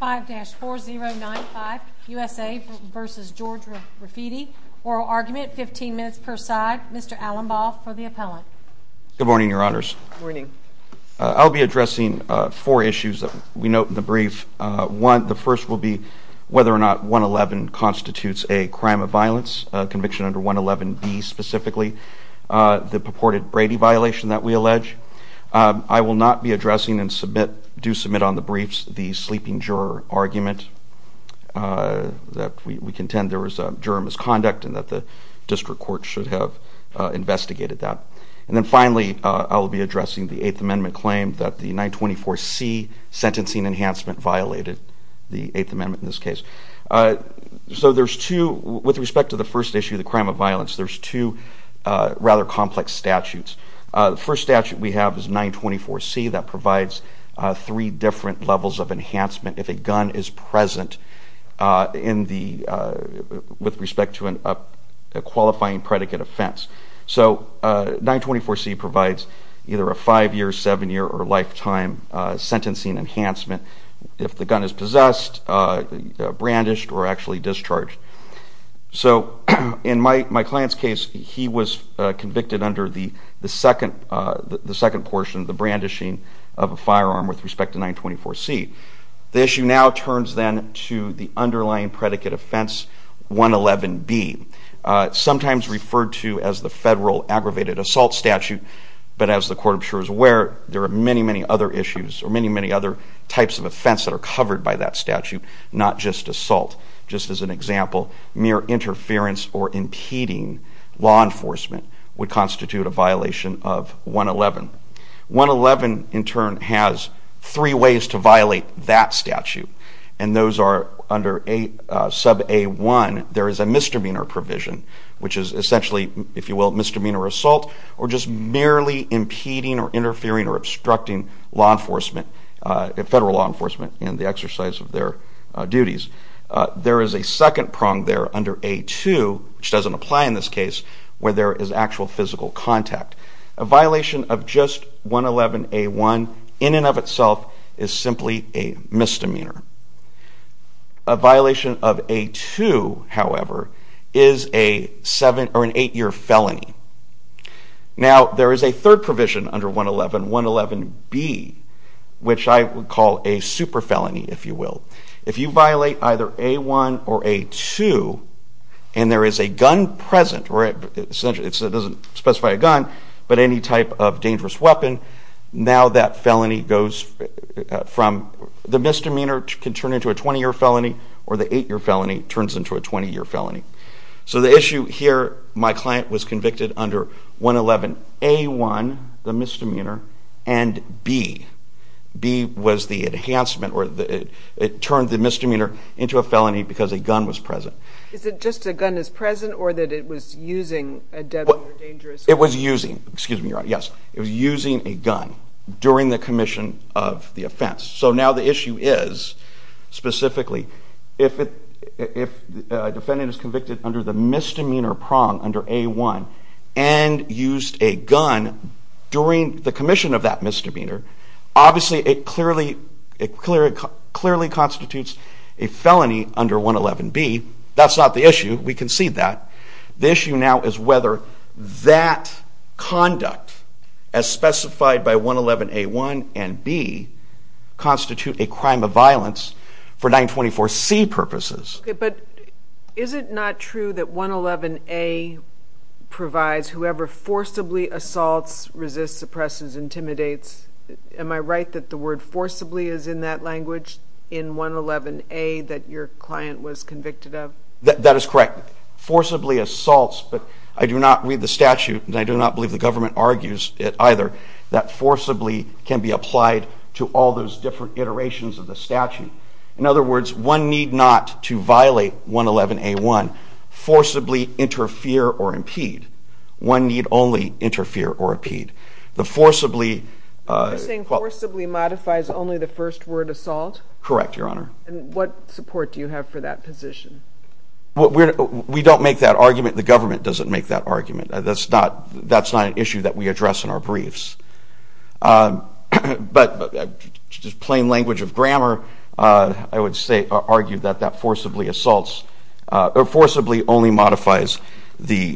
15-4095, USA v. George Rafidi, oral argument, 15 minutes per side, Mr. Allenbaugh for the appellant. Good morning, your honors. Good morning. I'll be addressing four issues that we note in the brief. One, the first will be whether or not 111 constitutes a crime of violence, conviction under 111B specifically, the purported Brady violation that we allege. I will not be addressing and do submit on the briefs the sleeping juror argument that we contend there was a juror misconduct and that the district court should have investigated that. And then finally, I'll be addressing the 8th Amendment claim that the 924C sentencing enhancement violated the 8th Amendment in this case. So there's two, with respect to the first issue, the crime of violence, there's two rather complex statutes. The first statute we have is 924C that provides three different levels of enhancement if a gun is present with respect to a qualifying predicate offense. So 924C provides either a five-year, seven-year, or lifetime sentencing enhancement if the gun is possessed, brandished, or actually discharged. So in my client's case, he was convicted under the second portion, the brandishing of a firearm with respect to 924C. The issue now turns then to the underlying predicate offense, 111B, sometimes referred to as the federal aggravated assault statute. But as the court, I'm sure, is aware, there are many, many other issues or many, many other types of offense that are covered by that statute, not just assault. Just as an example, mere interference or impeding law enforcement would constitute a violation of 111. 111, in turn, has three ways to violate that statute, and those are under sub-A1, there is a misdemeanor provision, which is essentially, if you will, misdemeanor assault or just merely impeding or interfering or obstructing law enforcement, federal law enforcement in the exercise of their duties. There is a second prong there under A2, which doesn't apply in this case, where there is actual physical contact. A violation of just 111A1, in and of itself, is simply a misdemeanor. A violation of A2, however, is an eight-year felony. Now, there is a third provision under 111, 111B, which I would call a super felony, if you will. If you violate either A1 or A2, and there is a gun present, or it doesn't specify a gun, but any type of dangerous weapon, now that felony goes from the misdemeanor can turn into a 20-year felony, or the eight-year felony turns into a 20-year felony. So the issue here, my client was convicted under 111A1, the misdemeanor, and B. B was the enhancement, or it turned the misdemeanor into a felony because a gun was present. Is it just a gun is present, or that it was using a deadly or dangerous weapon? It was using, excuse me, you're right, yes. It was using a gun during the commission of the offense. So now the issue is, specifically, if a defendant is convicted under the misdemeanor prong under A1, and used a gun during the commission of that misdemeanor, obviously it clearly constitutes a felony under 111B. That's not the issue. We concede that. The issue now is whether that conduct, as specified by 111A1 and B, constitute a crime of violence for 924C purposes. But is it not true that 111A provides whoever forcibly assaults, resists, suppresses, intimidates? Am I right that the word forcibly is in that language in 111A that your client was convicted of? That is correct. Forcibly assaults, but I do not read the statute, and I do not believe the government argues it either, that forcibly can be applied to all those different iterations of the statute. In other words, one need not, to violate 111A1, forcibly interfere or impede. One need only interfere or impede. You're saying forcibly modifies only the first word assault? Correct, Your Honor. And what support do you have for that position? We don't make that argument. The government doesn't make that argument. That's not an issue that we address in our briefs. But just plain language of grammar, I would argue that that forcibly assaults, or forcibly only modifies the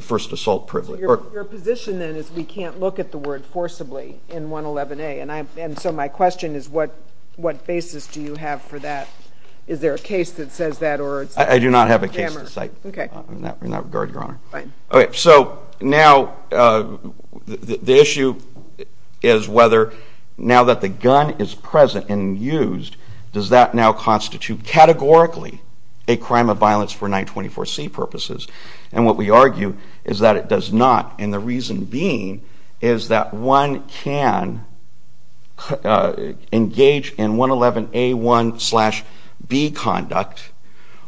first assault privilege. Your position then is we can't look at the word forcibly in 111A. And so my question is what basis do you have for that? Is there a case that says that? I do not have a case to cite in that regard, Your Honor. So now the issue is whether now that the gun is present and used, does that now constitute categorically a crime of violence for 924C purposes? And what we argue is that it does not. And the reason being is that one can engage in 111A1 slash B conduct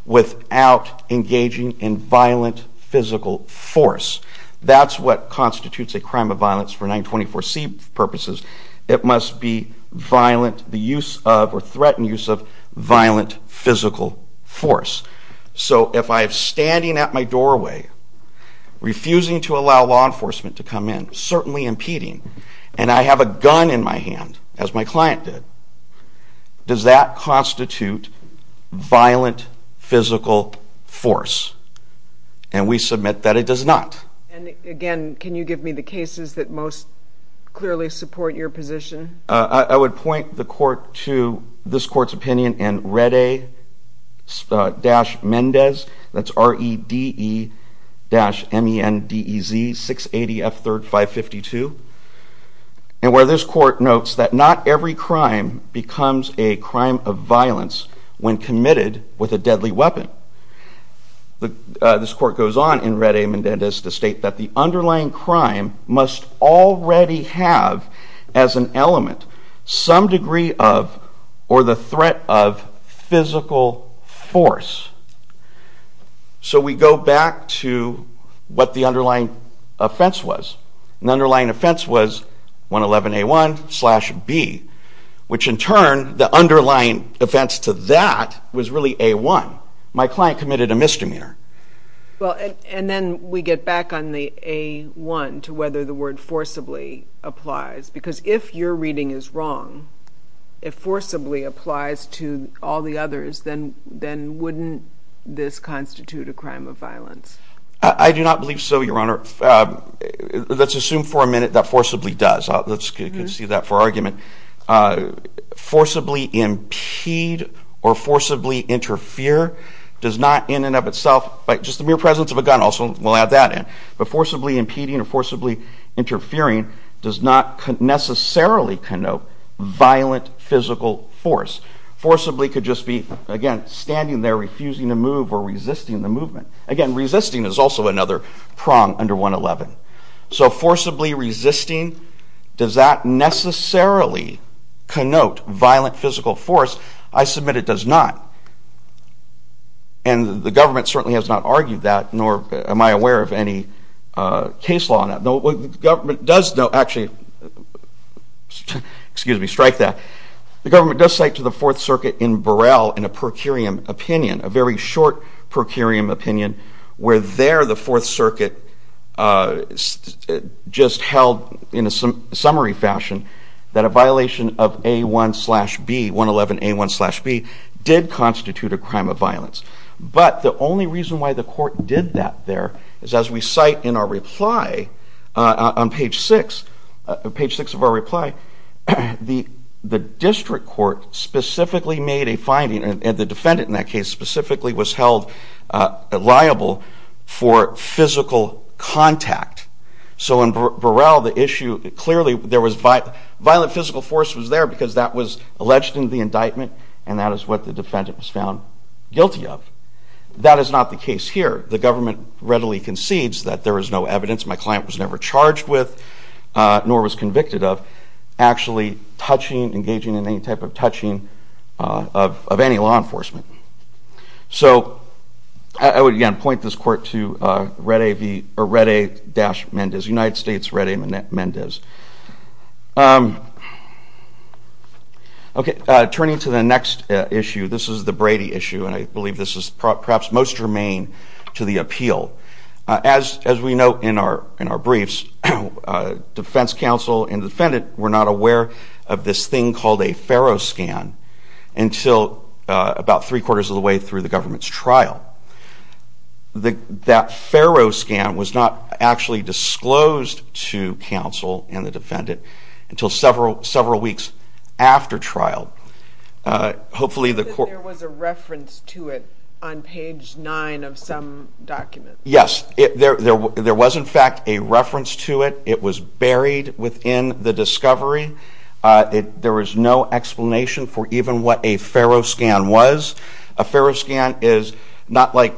without engaging in violent physical force. That's what constitutes a crime of violence for 924C purposes. It must be violent, the use of or threatened use of violent physical force. So if I'm standing at my doorway, refusing to allow law enforcement to come in, certainly impeding, and I have a gun in my hand, as my client did, does that constitute violent physical force? And we submit that it does not. And again, can you give me the cases that most clearly support your position? I would point the court to this court's opinion in Rede-Mendez, that's R-E-D-E-M-E-N-D-E-Z 680F3-552, where this court notes that not every crime becomes a crime of violence when committed with a deadly weapon. This court goes on in Rede-Mendez to state that the underlying crime must already have as an element some degree of or the threat of physical force. So we go back to what the underlying offense was. The underlying offense was 111A1 slash B, which in turn the underlying offense to that was really A1. My client committed a misdemeanor. And then we get back on the A1 to whether the word forcibly applies, because if your reading is wrong, if forcibly applies to all the others, then wouldn't this constitute a crime of violence? I do not believe so, Your Honor. Let's assume for a minute that forcibly does. Let's concede that for argument. Forcibly impede or forcibly interfere does not in and of itself, just the mere presence of a gun also, we'll add that in, but forcibly impeding or forcibly interfering does not necessarily connote violent physical force. Forcibly could just be, again, standing there, refusing to move or resisting the movement. Again, resisting is also another prong under 111. So forcibly resisting, does that necessarily connote violent physical force? I submit it does not. And the government certainly has not argued that, nor am I aware of any case law on that. The government does, actually, excuse me, strike that. The government does cite to the Fourth Circuit in Burrell in a per curiam opinion, a very short per curiam opinion, where there the Fourth Circuit just held in a summary fashion that a violation of A1 slash B, 111A1 slash B, did constitute a crime of violence. But the only reason why the court did that there is as we cite in our reply on page 6, page 6 of our reply, the district court specifically made a finding, and the defendant in that case specifically was held liable for physical contact. So in Burrell, the issue, clearly there was violent physical force was there because that was alleged in the indictment, and that is what the defendant was found guilty of. That is not the case here. The government readily concedes that there is no evidence, my client was never charged with, nor was convicted of, actually touching, engaging in any type of touching of any law enforcement. So I would again point this court to Red A-Mendez, United States Red A-Mendez. Okay, turning to the next issue, this is the Brady issue, and I believe this is perhaps most germane to the appeal. As we note in our briefs, the defense counsel and the defendant were not aware of this thing called a FARO scan until about three-quarters of the way through the government's trial. That FARO scan was not actually disclosed to counsel and the defendant until several weeks after trial. Hopefully the court... There was a reference to it on page 9 of some document. Yes, there was in fact a reference to it. It was buried within the discovery. There was no explanation for even what a FARO scan was. A FARO scan is not like,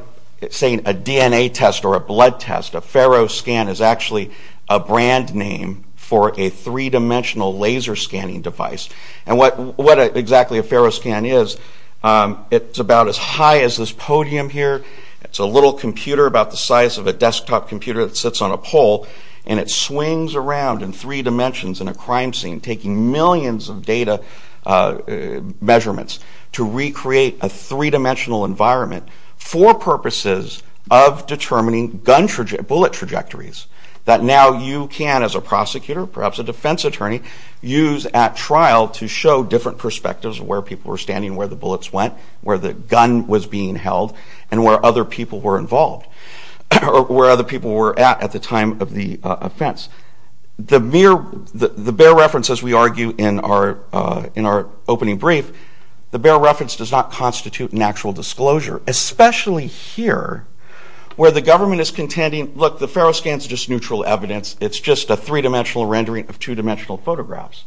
say, a DNA test or a blood test. A FARO scan is actually a brand name for a three-dimensional laser scanning device. And what exactly a FARO scan is, it's about as high as this podium here. It's a little computer about the size of a desktop computer that sits on a pole, and it swings around in three dimensions in a crime scene, taking millions of data measurements to recreate a three-dimensional environment for purposes of determining bullet trajectories that now you can, as a prosecutor, perhaps a defense attorney, use at trial to show different perspectives of where people were standing, where the bullets went, where the gun was being held, and where other people were involved, or where other people were at at the time of the offense. The bare reference, as we argue in our opening brief, the bare reference does not constitute an actual disclosure, especially here, where the government is contending, look, the FARO scan is just neutral evidence. It's just a three-dimensional rendering of two-dimensional photographs.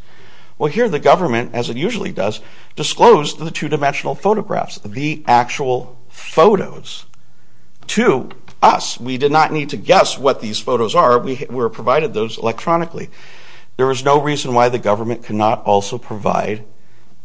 Well, here the government, as it usually does, disclosed the two-dimensional photographs, the actual photos to us. We did not need to guess what these photos are. We were provided those electronically. There is no reason why the government could not also provide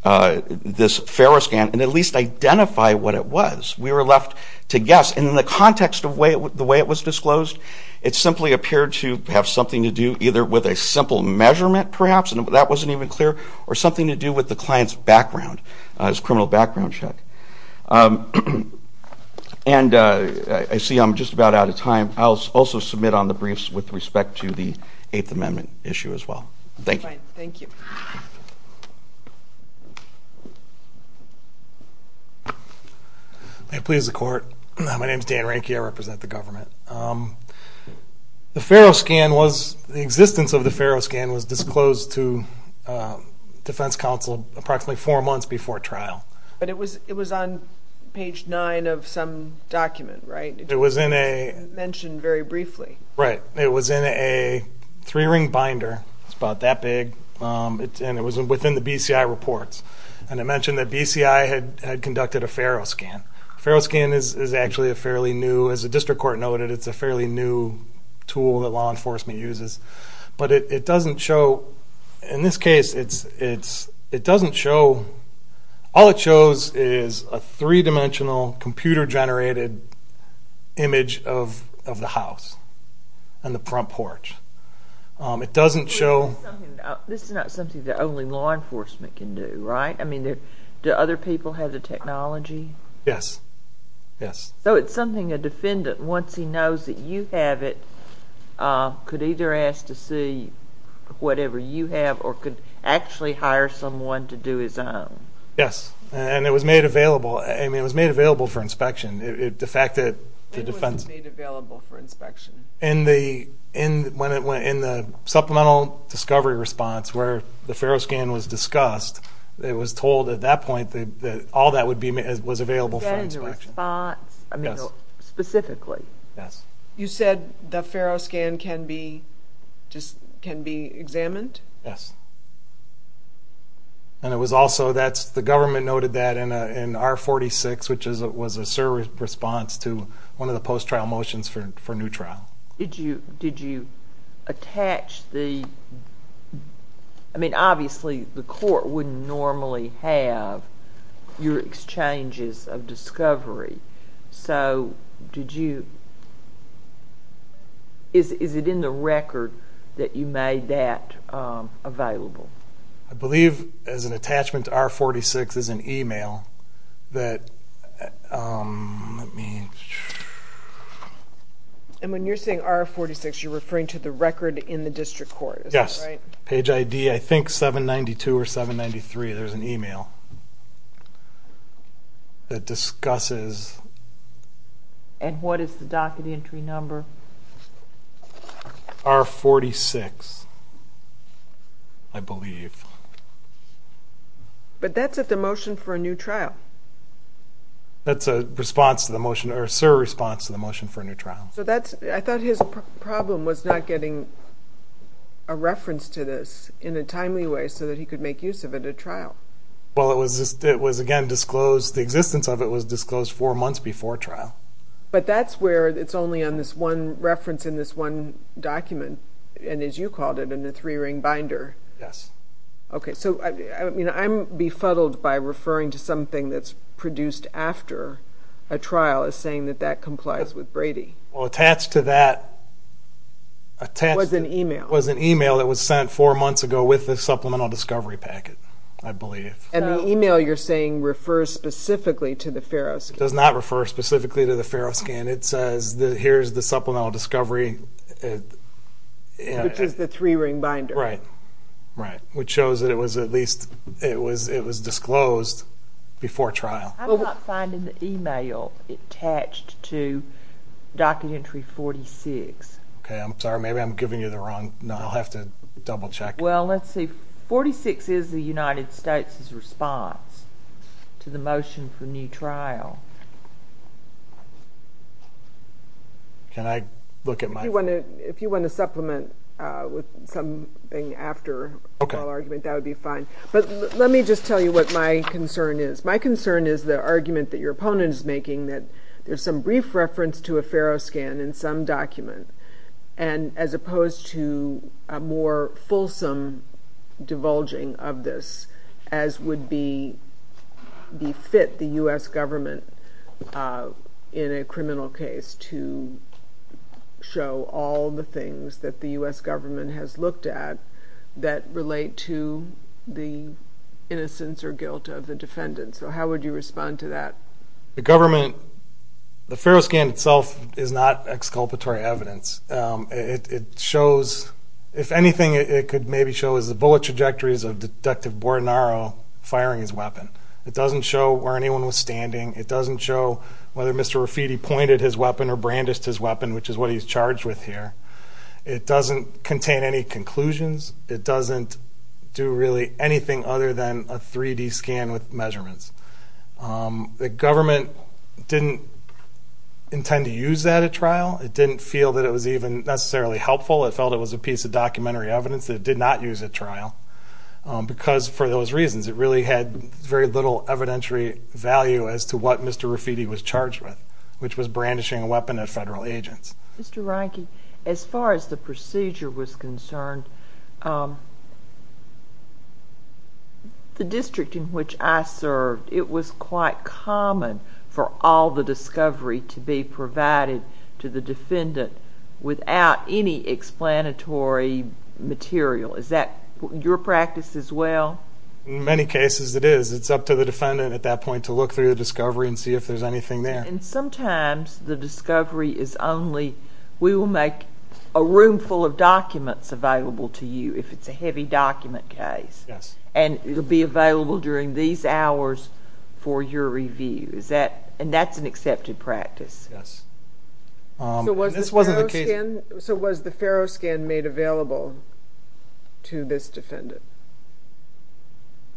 this FARO scan and at least identify what it was. We were left to guess, and in the context of the way it was disclosed, it simply appeared to have something to do either with a simple measurement, perhaps, and that wasn't even clear, or something to do with the client's background, his criminal background check. And I see I'm just about out of time. I'll also submit on the briefs with respect to the Eighth Amendment issue as well. Thank you. May it please the Court. My name is Dan Ranke. I represent the government. The FARO scan was—the existence of the FARO scan was disclosed to defense counsel approximately four months before trial. But it was on page 9 of some document, right? It was in a— It was mentioned very briefly. Right. It was in a three-ring binder. It was about that big. And it was within the BCI reports. And it mentioned that BCI had conducted a FARO scan. A FARO scan is actually a fairly new— As the district court noted, it's a fairly new tool that law enforcement uses. But it doesn't show— In this case, it doesn't show— All it shows is a three-dimensional, computer-generated image of the house and the front porch. It doesn't show— This is not something that only law enforcement can do, right? I mean, do other people have the technology? Yes. Yes. So it's something a defendant, once he knows that you have it, could either ask to see whatever you have or could actually hire someone to do his own. Yes. And it was made available. I mean, it was made available for inspection. When was it made available for inspection? In the supplemental discovery response where the FARO scan was discussed. It was told at that point that all that was available for inspection. Was that in the response specifically? Yes. You said the FARO scan can be examined? Yes. And it was also—the government noted that in R46, which was a service response to one of the post-trial motions for new trial. Did you attach the— I mean, obviously the court wouldn't normally have your exchanges of discovery. So did you— Is it in the record that you made that available? I believe as an attachment to R46 is an email that— Let me— And when you're saying R46, you're referring to the record in the district court, is that right? Yes. Page ID, I think 792 or 793. There's an email that discusses— And what is the docket entry number? R46, I believe. But that's at the motion for a new trial. That's a response to the motion— or a service response to the motion for a new trial. So that's—I thought his problem was not getting a reference to this in a timely way so that he could make use of it at trial. Well, it was, again, disclosed— the existence of it was disclosed four months before trial. But that's where it's only on this one reference in this one document, and as you called it, in a three-ring binder. Yes. Okay, so I'm befuddled by referring to something that's produced after a trial as saying that that complies with Brady. Well, attached to that— Was an email. Was an email that was sent four months ago with the Supplemental Discovery Packet, I believe. And the email you're saying refers specifically to the FARO scan. It does not refer specifically to the FARO scan. It says, here's the Supplemental Discovery— Which is the three-ring binder. Which shows that it was at least—it was disclosed before trial. I'm not finding the email attached to Document Entry 46. Okay, I'm sorry. Maybe I'm giving you the wrong— I'll have to double-check. Well, let's see. 46 is the United States' response to the motion for new trial. Can I look at my— If you want to supplement with something after a trial argument, that would be fine. But let me just tell you what my concern is. My concern is the argument that your opponent is making that there's some brief reference to a FARO scan in some document as opposed to a more fulsome divulging of this as would befit the U.S. government in a criminal case to show all the things that the U.S. government has looked at that relate to the innocence or guilt of the defendant. So how would you respond to that? The government—the FARO scan itself is not exculpatory evidence. It shows—if anything, it could maybe show as the bullet trajectories of where anyone was standing. It doesn't show whether Mr. Rafiti pointed his weapon or brandished his weapon, which is what he's charged with here. It doesn't contain any conclusions. It doesn't do really anything other than a 3D scan with measurements. The government didn't intend to use that at trial. It didn't feel that it was even necessarily helpful. It felt it was a piece of documentary evidence that it did not use at trial because, for those reasons, it really had very little evidentiary value as to what Mr. Rafiti was charged with, which was brandishing a weapon at federal agents. Mr. Reinke, as far as the procedure was concerned, the district in which I served, it was quite common for all the discovery to be provided to the defendant without any explanatory material. Is that your practice as well? In many cases, it is. It's up to the defendant at that point to look through the discovery and see if there's anything there. Sometimes the discovery is only— we will make a room full of documents available to you if it's a heavy document case. It will be available during these hours for your review. That's an accepted practice. Yes. So was the FARO scan made available to this defendant?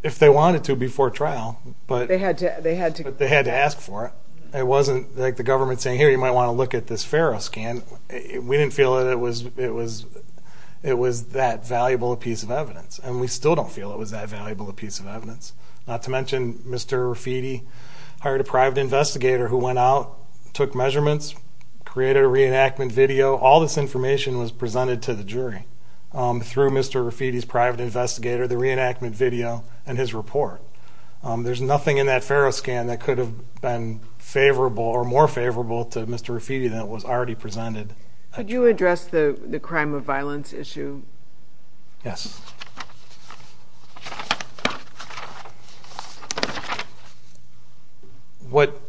If they wanted to before trial. They had to ask for it. It wasn't like the government saying, here, you might want to look at this FARO scan. We didn't feel that it was that valuable a piece of evidence. And we still don't feel it was that valuable a piece of evidence. Not to mention, Mr. Rafiti hired a private investigator who went out, took measurements, created a reenactment video. All this information was presented to the jury through Mr. Rafiti's private investigator, the reenactment video, and his report. There's nothing in that FARO scan that could have been favorable or more favorable to Mr. Rafiti than what was already presented. Could you address the crime of violence issue? Yes. What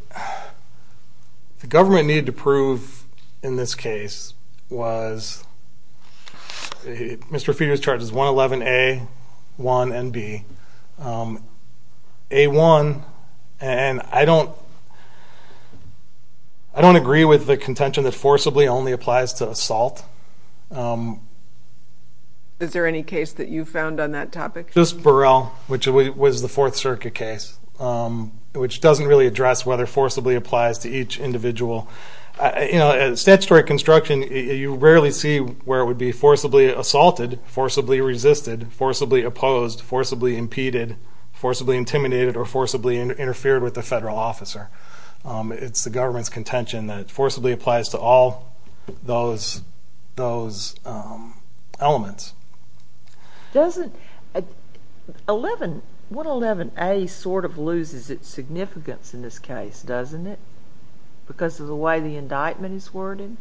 the government needed to prove in this case was Mr. Rafiti was charged with 111A, 1, and B. A1, and I don't agree with the contention that forcibly only applies to assault. Is there any case that you found on that topic? Just Burrell, which was the Fourth Circuit case, which doesn't really address whether forcibly applies to each individual. Statutory construction, you rarely see where it would be forcibly assaulted, forcibly resisted, forcibly opposed, forcibly impeded, forcibly intimidated, or forcibly interfered with a federal officer. It's the government's contention that forcibly applies to all those elements. What 11A sort of loses its significance in this case, doesn't it? Because of the way the indictment is worded?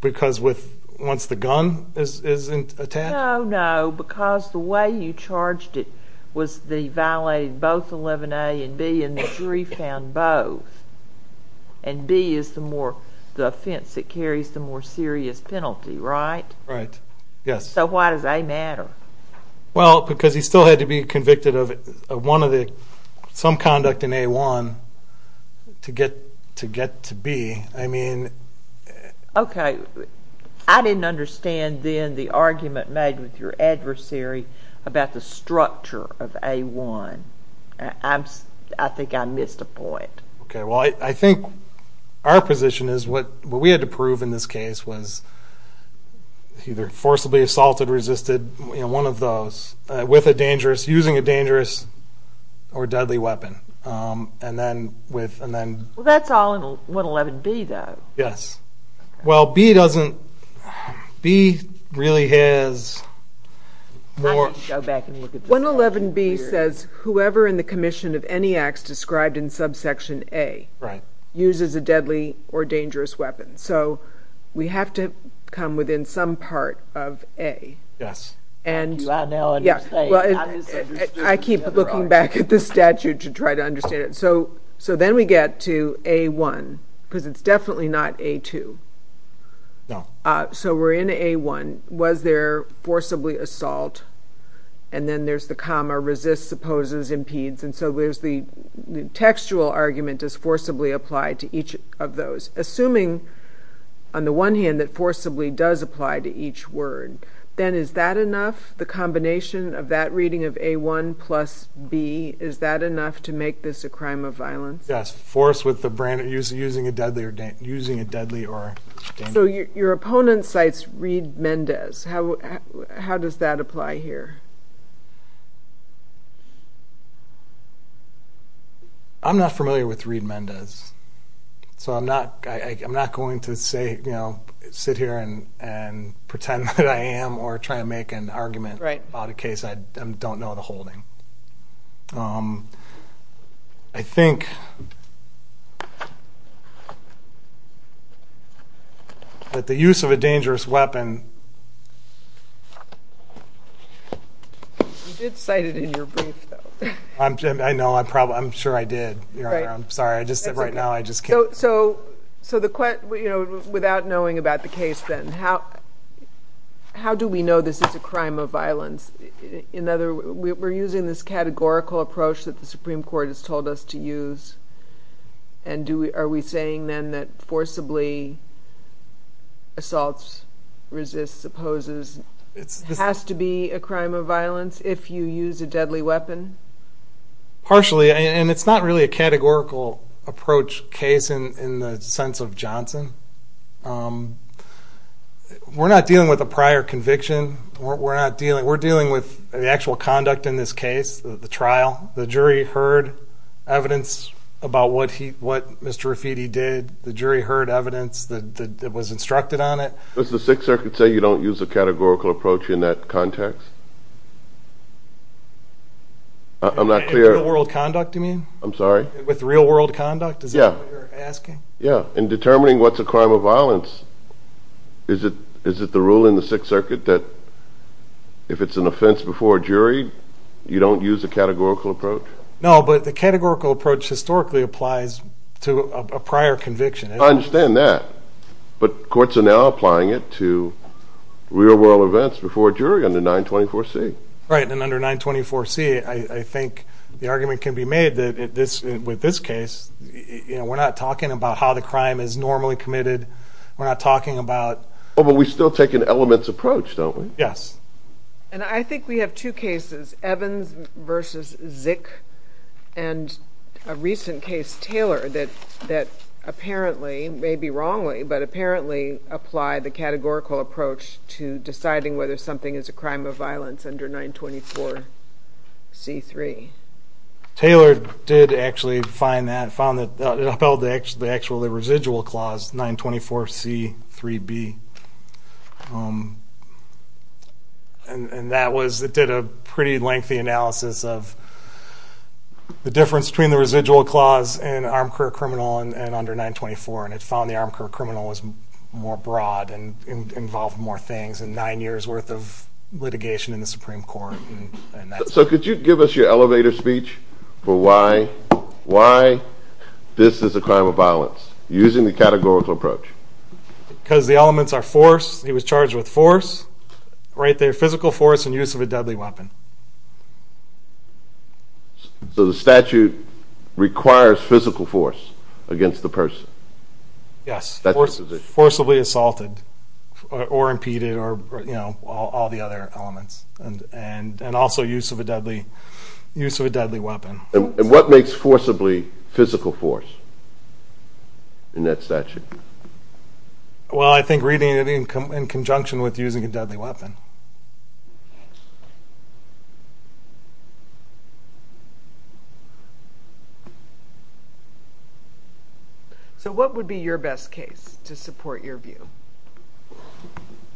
Because once the gun is attacked? No, no, because the way you charged it was they violated both 11A and B and the jury found both. And B is the offense that carries the more serious penalty, right? Right, yes. So why does A matter? Well, because he still had to be convicted of some conduct in A1 to get to B. Okay, I didn't understand then the argument made with your adversary about the structure of A1. I think I missed a point. Okay, well, I think our position is what we had to prove in this case was either forcibly assaulted, resisted, one of those with a dangerous, using a dangerous or deadly weapon. Well, that's all in 111B, though. Yes. Well, B doesn't B really has 111B says whoever in the commission of any acts described in subsection A uses a deadly or dangerous weapon. So we have to come within some part of A. Do I now understand? I keep looking back at the statute to try to understand it. So then we get to A1 because it's definitely not A2. No. So we're in A1. Was there forcibly assault? And then there's the comma, resist, supposes, impedes. And so there's the textual argument is forcibly applied to each of those. Assuming on the one hand that forcibly does apply to each word then is that enough? The combination of that reading of A1 plus B is that enough to make this a crime of violence? Yes. Using a deadly or dangerous weapon. So your opponent cites Reed Mendez. How does that apply here? I'm not familiar with Reed Mendez. So I'm not going to sit here and pretend that I am or try to make an argument about a case I don't know the holding. I think that the use of a dangerous weapon You did cite it in your brief though. I know. I'm sure I did. I'm sorry. Right now I just can't. Without knowing about the case then how do we know this is a crime of violence? We're using this categorical approach that the Supreme Court has told us to use. Are we saying then that forcibly assaults, resists, opposes has to be a crime of violence if you use a deadly weapon? Partially. And it's not really a categorical approach case in the sense of Johnson. We're not dealing with a prior conviction. We're dealing with the actual conduct in this case. The trial. The jury heard evidence about what Mr. Rafiti did. The jury heard evidence that was instructed on it. Does the Sixth Circuit say you don't use a categorical approach in that context? I'm not clear. With real world conduct? In determining what's a crime of violence is it the rule in the Sixth Circuit that if it's an offense before a jury you don't use a categorical approach? No, but the categorical approach historically applies to a prior conviction. I understand that, but courts are now applying it to real world events before a jury under 924C. Right, and under 924C I think the argument can be made that with this case we're not talking about how the crime is normally committed. We're not talking about... Oh, but we still take an elements approach, don't we? Yes. And I think we have two cases, Evans vs. Zick and a recent case, Taylor, that apparently, maybe wrongly, but apparently apply the categorical approach to deciding whether something is a crime of violence under 924C3. Taylor did actually find that and found that it upheld the actual residual clause 924C3B. And that was... it did a pretty lengthy analysis of the difference between the residual clause and armed career criminal and under 924 and it found the armed career criminal was more broad and involved more things and nine years worth of litigation in the Supreme Court. So could you give us your elevator speech for why this is a crime of violence using the categorical approach? Because the elements are force, he was charged with force, right there, physical force and use of a deadly weapon. So the statute requires physical force against the person? Yes, forcibly assaulted or impeded or all the other elements and also use of a deadly weapon. And what makes forcibly physical force in that statute? Well I think reading it in conjunction with using a deadly weapon. So what would be your best case to support your view?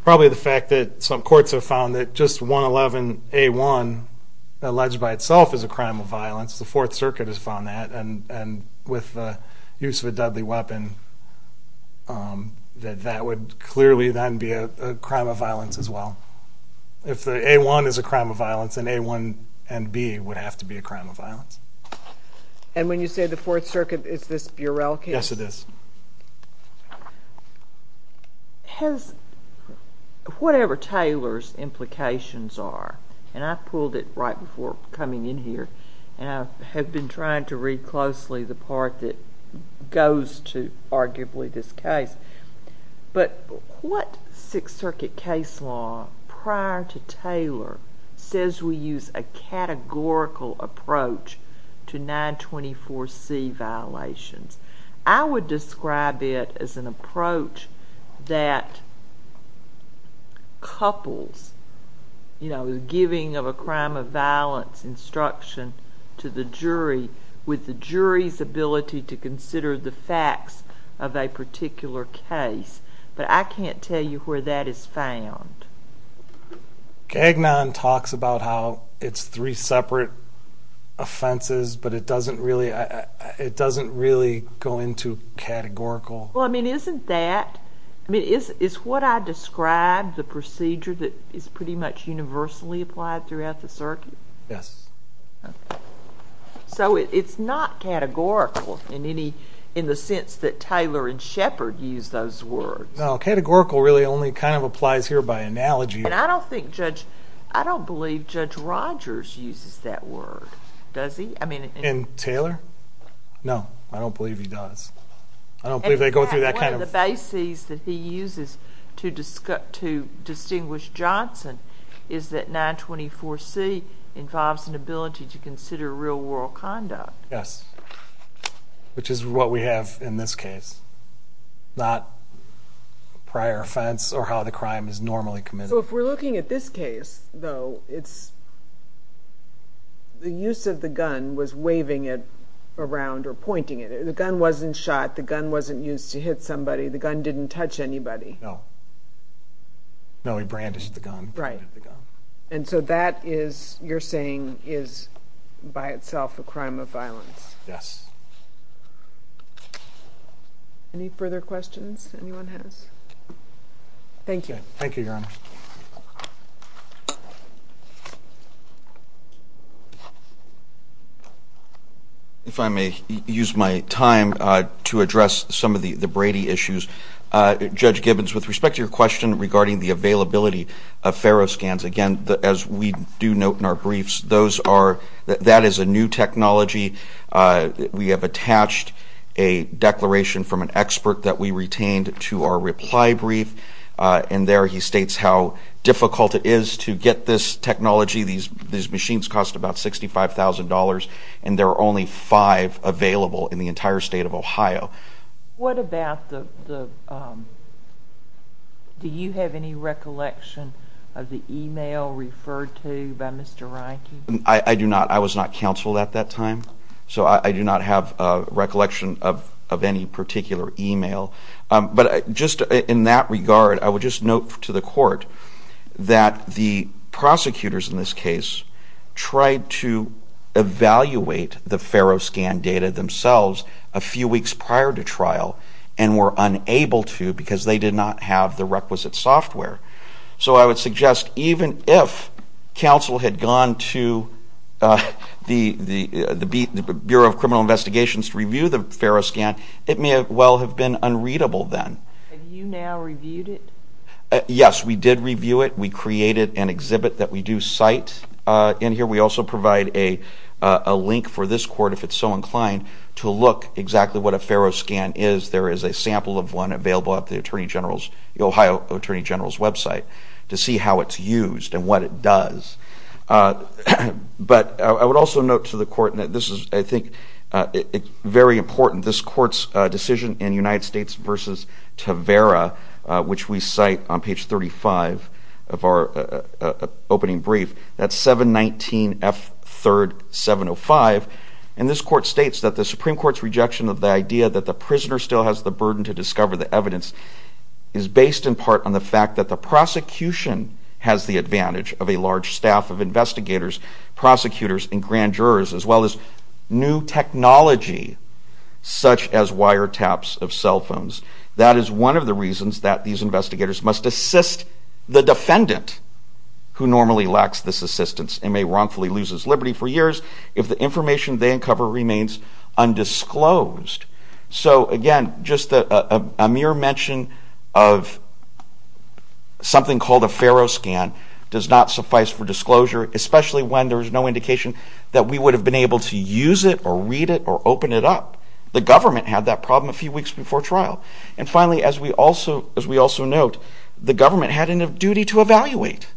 Probably the fact that some courts have found that just 111A1 alleged by itself is a crime of violence. The Fourth Circuit has found that and with the use of a deadly weapon that that would clearly then be a crime of violence as well. If A1 is a crime of violence, then A1 and B would have to be a crime of violence. And when you say the Fourth Circuit, is this Burel case? Yes it is. Has, whatever Taylor's implications are, and I pulled it right before coming in here, and I have been trying to read closely the part that goes to arguably this case, but what Sixth Circuit case law prior to Taylor says we use a categorical approach to 924C violations? I would describe it as an approach that couples the giving of a crime of violence instruction to the jury with the jury's ability to consider the facts of a particular case, but I can't tell you where that is found. Gagnon talks about how it's three separate offenses, but it doesn't really go into categorical. Well, I mean, isn't that, I mean, is what I described the procedure that is pretty much universally applied throughout the circuit? Yes. So it's not categorical in any, in the sense that Taylor and Shepard use those words. No, categorical really only kind of applies here by analogy. And I don't think Judge, I don't believe Judge Rogers uses that word. Does he? I mean. And Taylor? No. I don't believe he does. I don't believe they go through that kind of... One of the bases that he uses to distinguish Johnson is that 924C involves an ability to consider real world conduct. Yes. Which is what we have in this case. Not prior offense or how the crime is normally committed. So if we're looking at this case, though, it's, the use of the gun was waving it around or pointing it. The gun wasn't shot. The gun wasn't used to hit somebody. The gun didn't touch anybody. No. No, he brandished the gun. Right. And so that is, you're saying, is by itself a crime of violence. Yes. Any further questions anyone has? Thank you. Thank you, Your Honor. If I may use my time to address some of the Brady issues. Judge Gibbons, with respect to your question regarding the availability of ferroscans, again, as we do note in our briefs, those are, that is a new technology. We have attached a declaration from an expert that we retained to our reply brief. And there he states how difficult it is to get this technology. These machines cost about $65,000. And there are only five available in the entire state of Ohio. What about the do you have any recollection of the email referred to by Mr. Reinke? I do not. I was not counseled at that time. So I do not have recollection of any particular email. But just in that regard, I would just note to the court that the prosecutors in this case tried to evaluate the ferroscan, but they were not prepared to trial and were unable to because they did not have the requisite software. So I would suggest even if counsel had gone to the Bureau of Criminal Investigations to review the ferroscan, it may well have been unreadable then. Have you now reviewed it? Yes, we did review it. We created an exhibit that we do cite in here. We also provide a opportunity for this court, if it's so inclined, to look exactly what a ferroscan is. There is a sample of one available at the Ohio Attorney General's website to see how it's used and what it does. But I would also note to the court that this is, I think, very important. This court's decision in United States v. Tavera, which we cite on page 35 of our opening brief, that's 719F3705, and this court states that the Supreme Court's rejection of the idea that the prisoner still has the burden to discover the evidence is based in part on the fact that the prosecution has the advantage of a large staff of investigators, prosecutors, and grand jurors, as well as new technology such as wiretaps of cell phones. That is one of the reasons that these investigators must assist the defendant who normally lacks this assistance and may wrongfully lose his liberty for years if the information they uncover remains undisclosed. So, again, just a mere mention of something called a ferroscan does not suffice for disclosure, especially when there is no indication that we would have been able to use it or read it or open it up. The government had that problem a few weeks before trial. And finally, as we also note, the government had a duty to evaluate.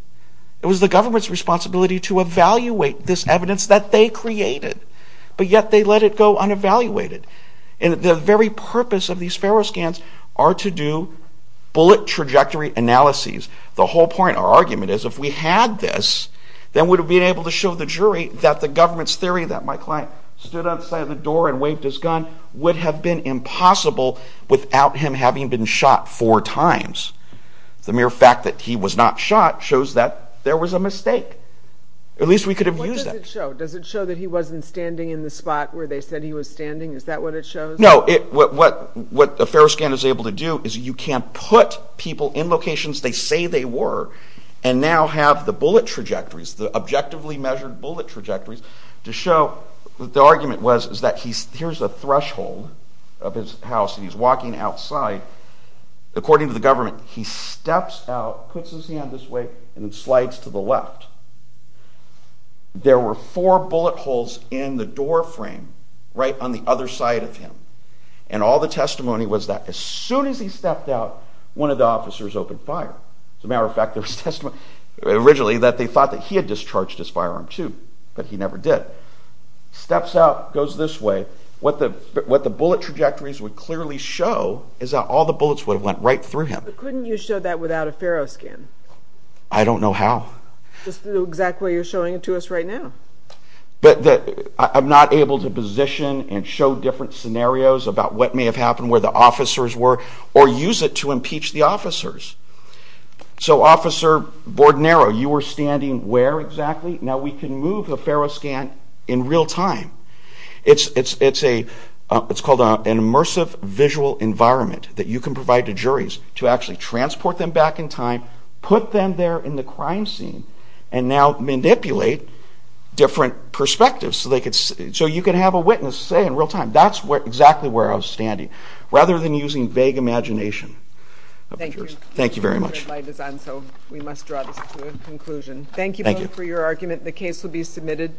It was the government's responsibility to evaluate this evidence that they created, but yet they let it go unevaluated. And the very purpose of these ferroscans are to do bullet trajectory analyses. The whole point of our argument is if we had this, then we would have been able to show the jury that the government's theory that my client stood outside the door and waved his gun would have been impossible without him having been shot four times. The mere fact that he was not shot shows that there was a mistake. At least we could have used that. What does it show? Does it show that he wasn't standing in the spot where they said he was standing? Is that what it shows? No. What a ferroscan is able to do is you can put people in locations they say they were and now have the bullet trajectories, the objectively measured bullet trajectories, to show that the argument was that here's a threshold of his house and he's walking outside. According to the government, he steps out, puts his hand this way, and slides to the left. There were four bullet holes in the door frame right on the other side of him. And all the testimony was that as soon as he stepped out, one of the officers opened fire. As a matter of fact, there was testimony originally that they thought that he had discharged his firearm, too, but he never did. Steps out, goes this way. What the bullet trajectories would clearly show is that all the bullets would have went right through him. But couldn't you show that without a ferroscan? I don't know how. Just the exact way you're showing it to us right now. I'm not able to position and show different scenarios about what may have happened, where the officers were, or use it to impeach the officers. So, Officer Bordenaro, you were standing where exactly? Now we can move the ferroscan in real time. It's called an immersive visual environment that you can provide to juries to actually transport them back in time, put them there in the crime scene, and now manipulate different perspectives. So you can have a witness say in real time, that's exactly where I was standing, rather than using vague imagination. Thank you very much. Thank you both for your argument. The case will be submitted.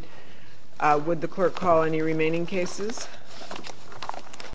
Would the court call any remaining cases?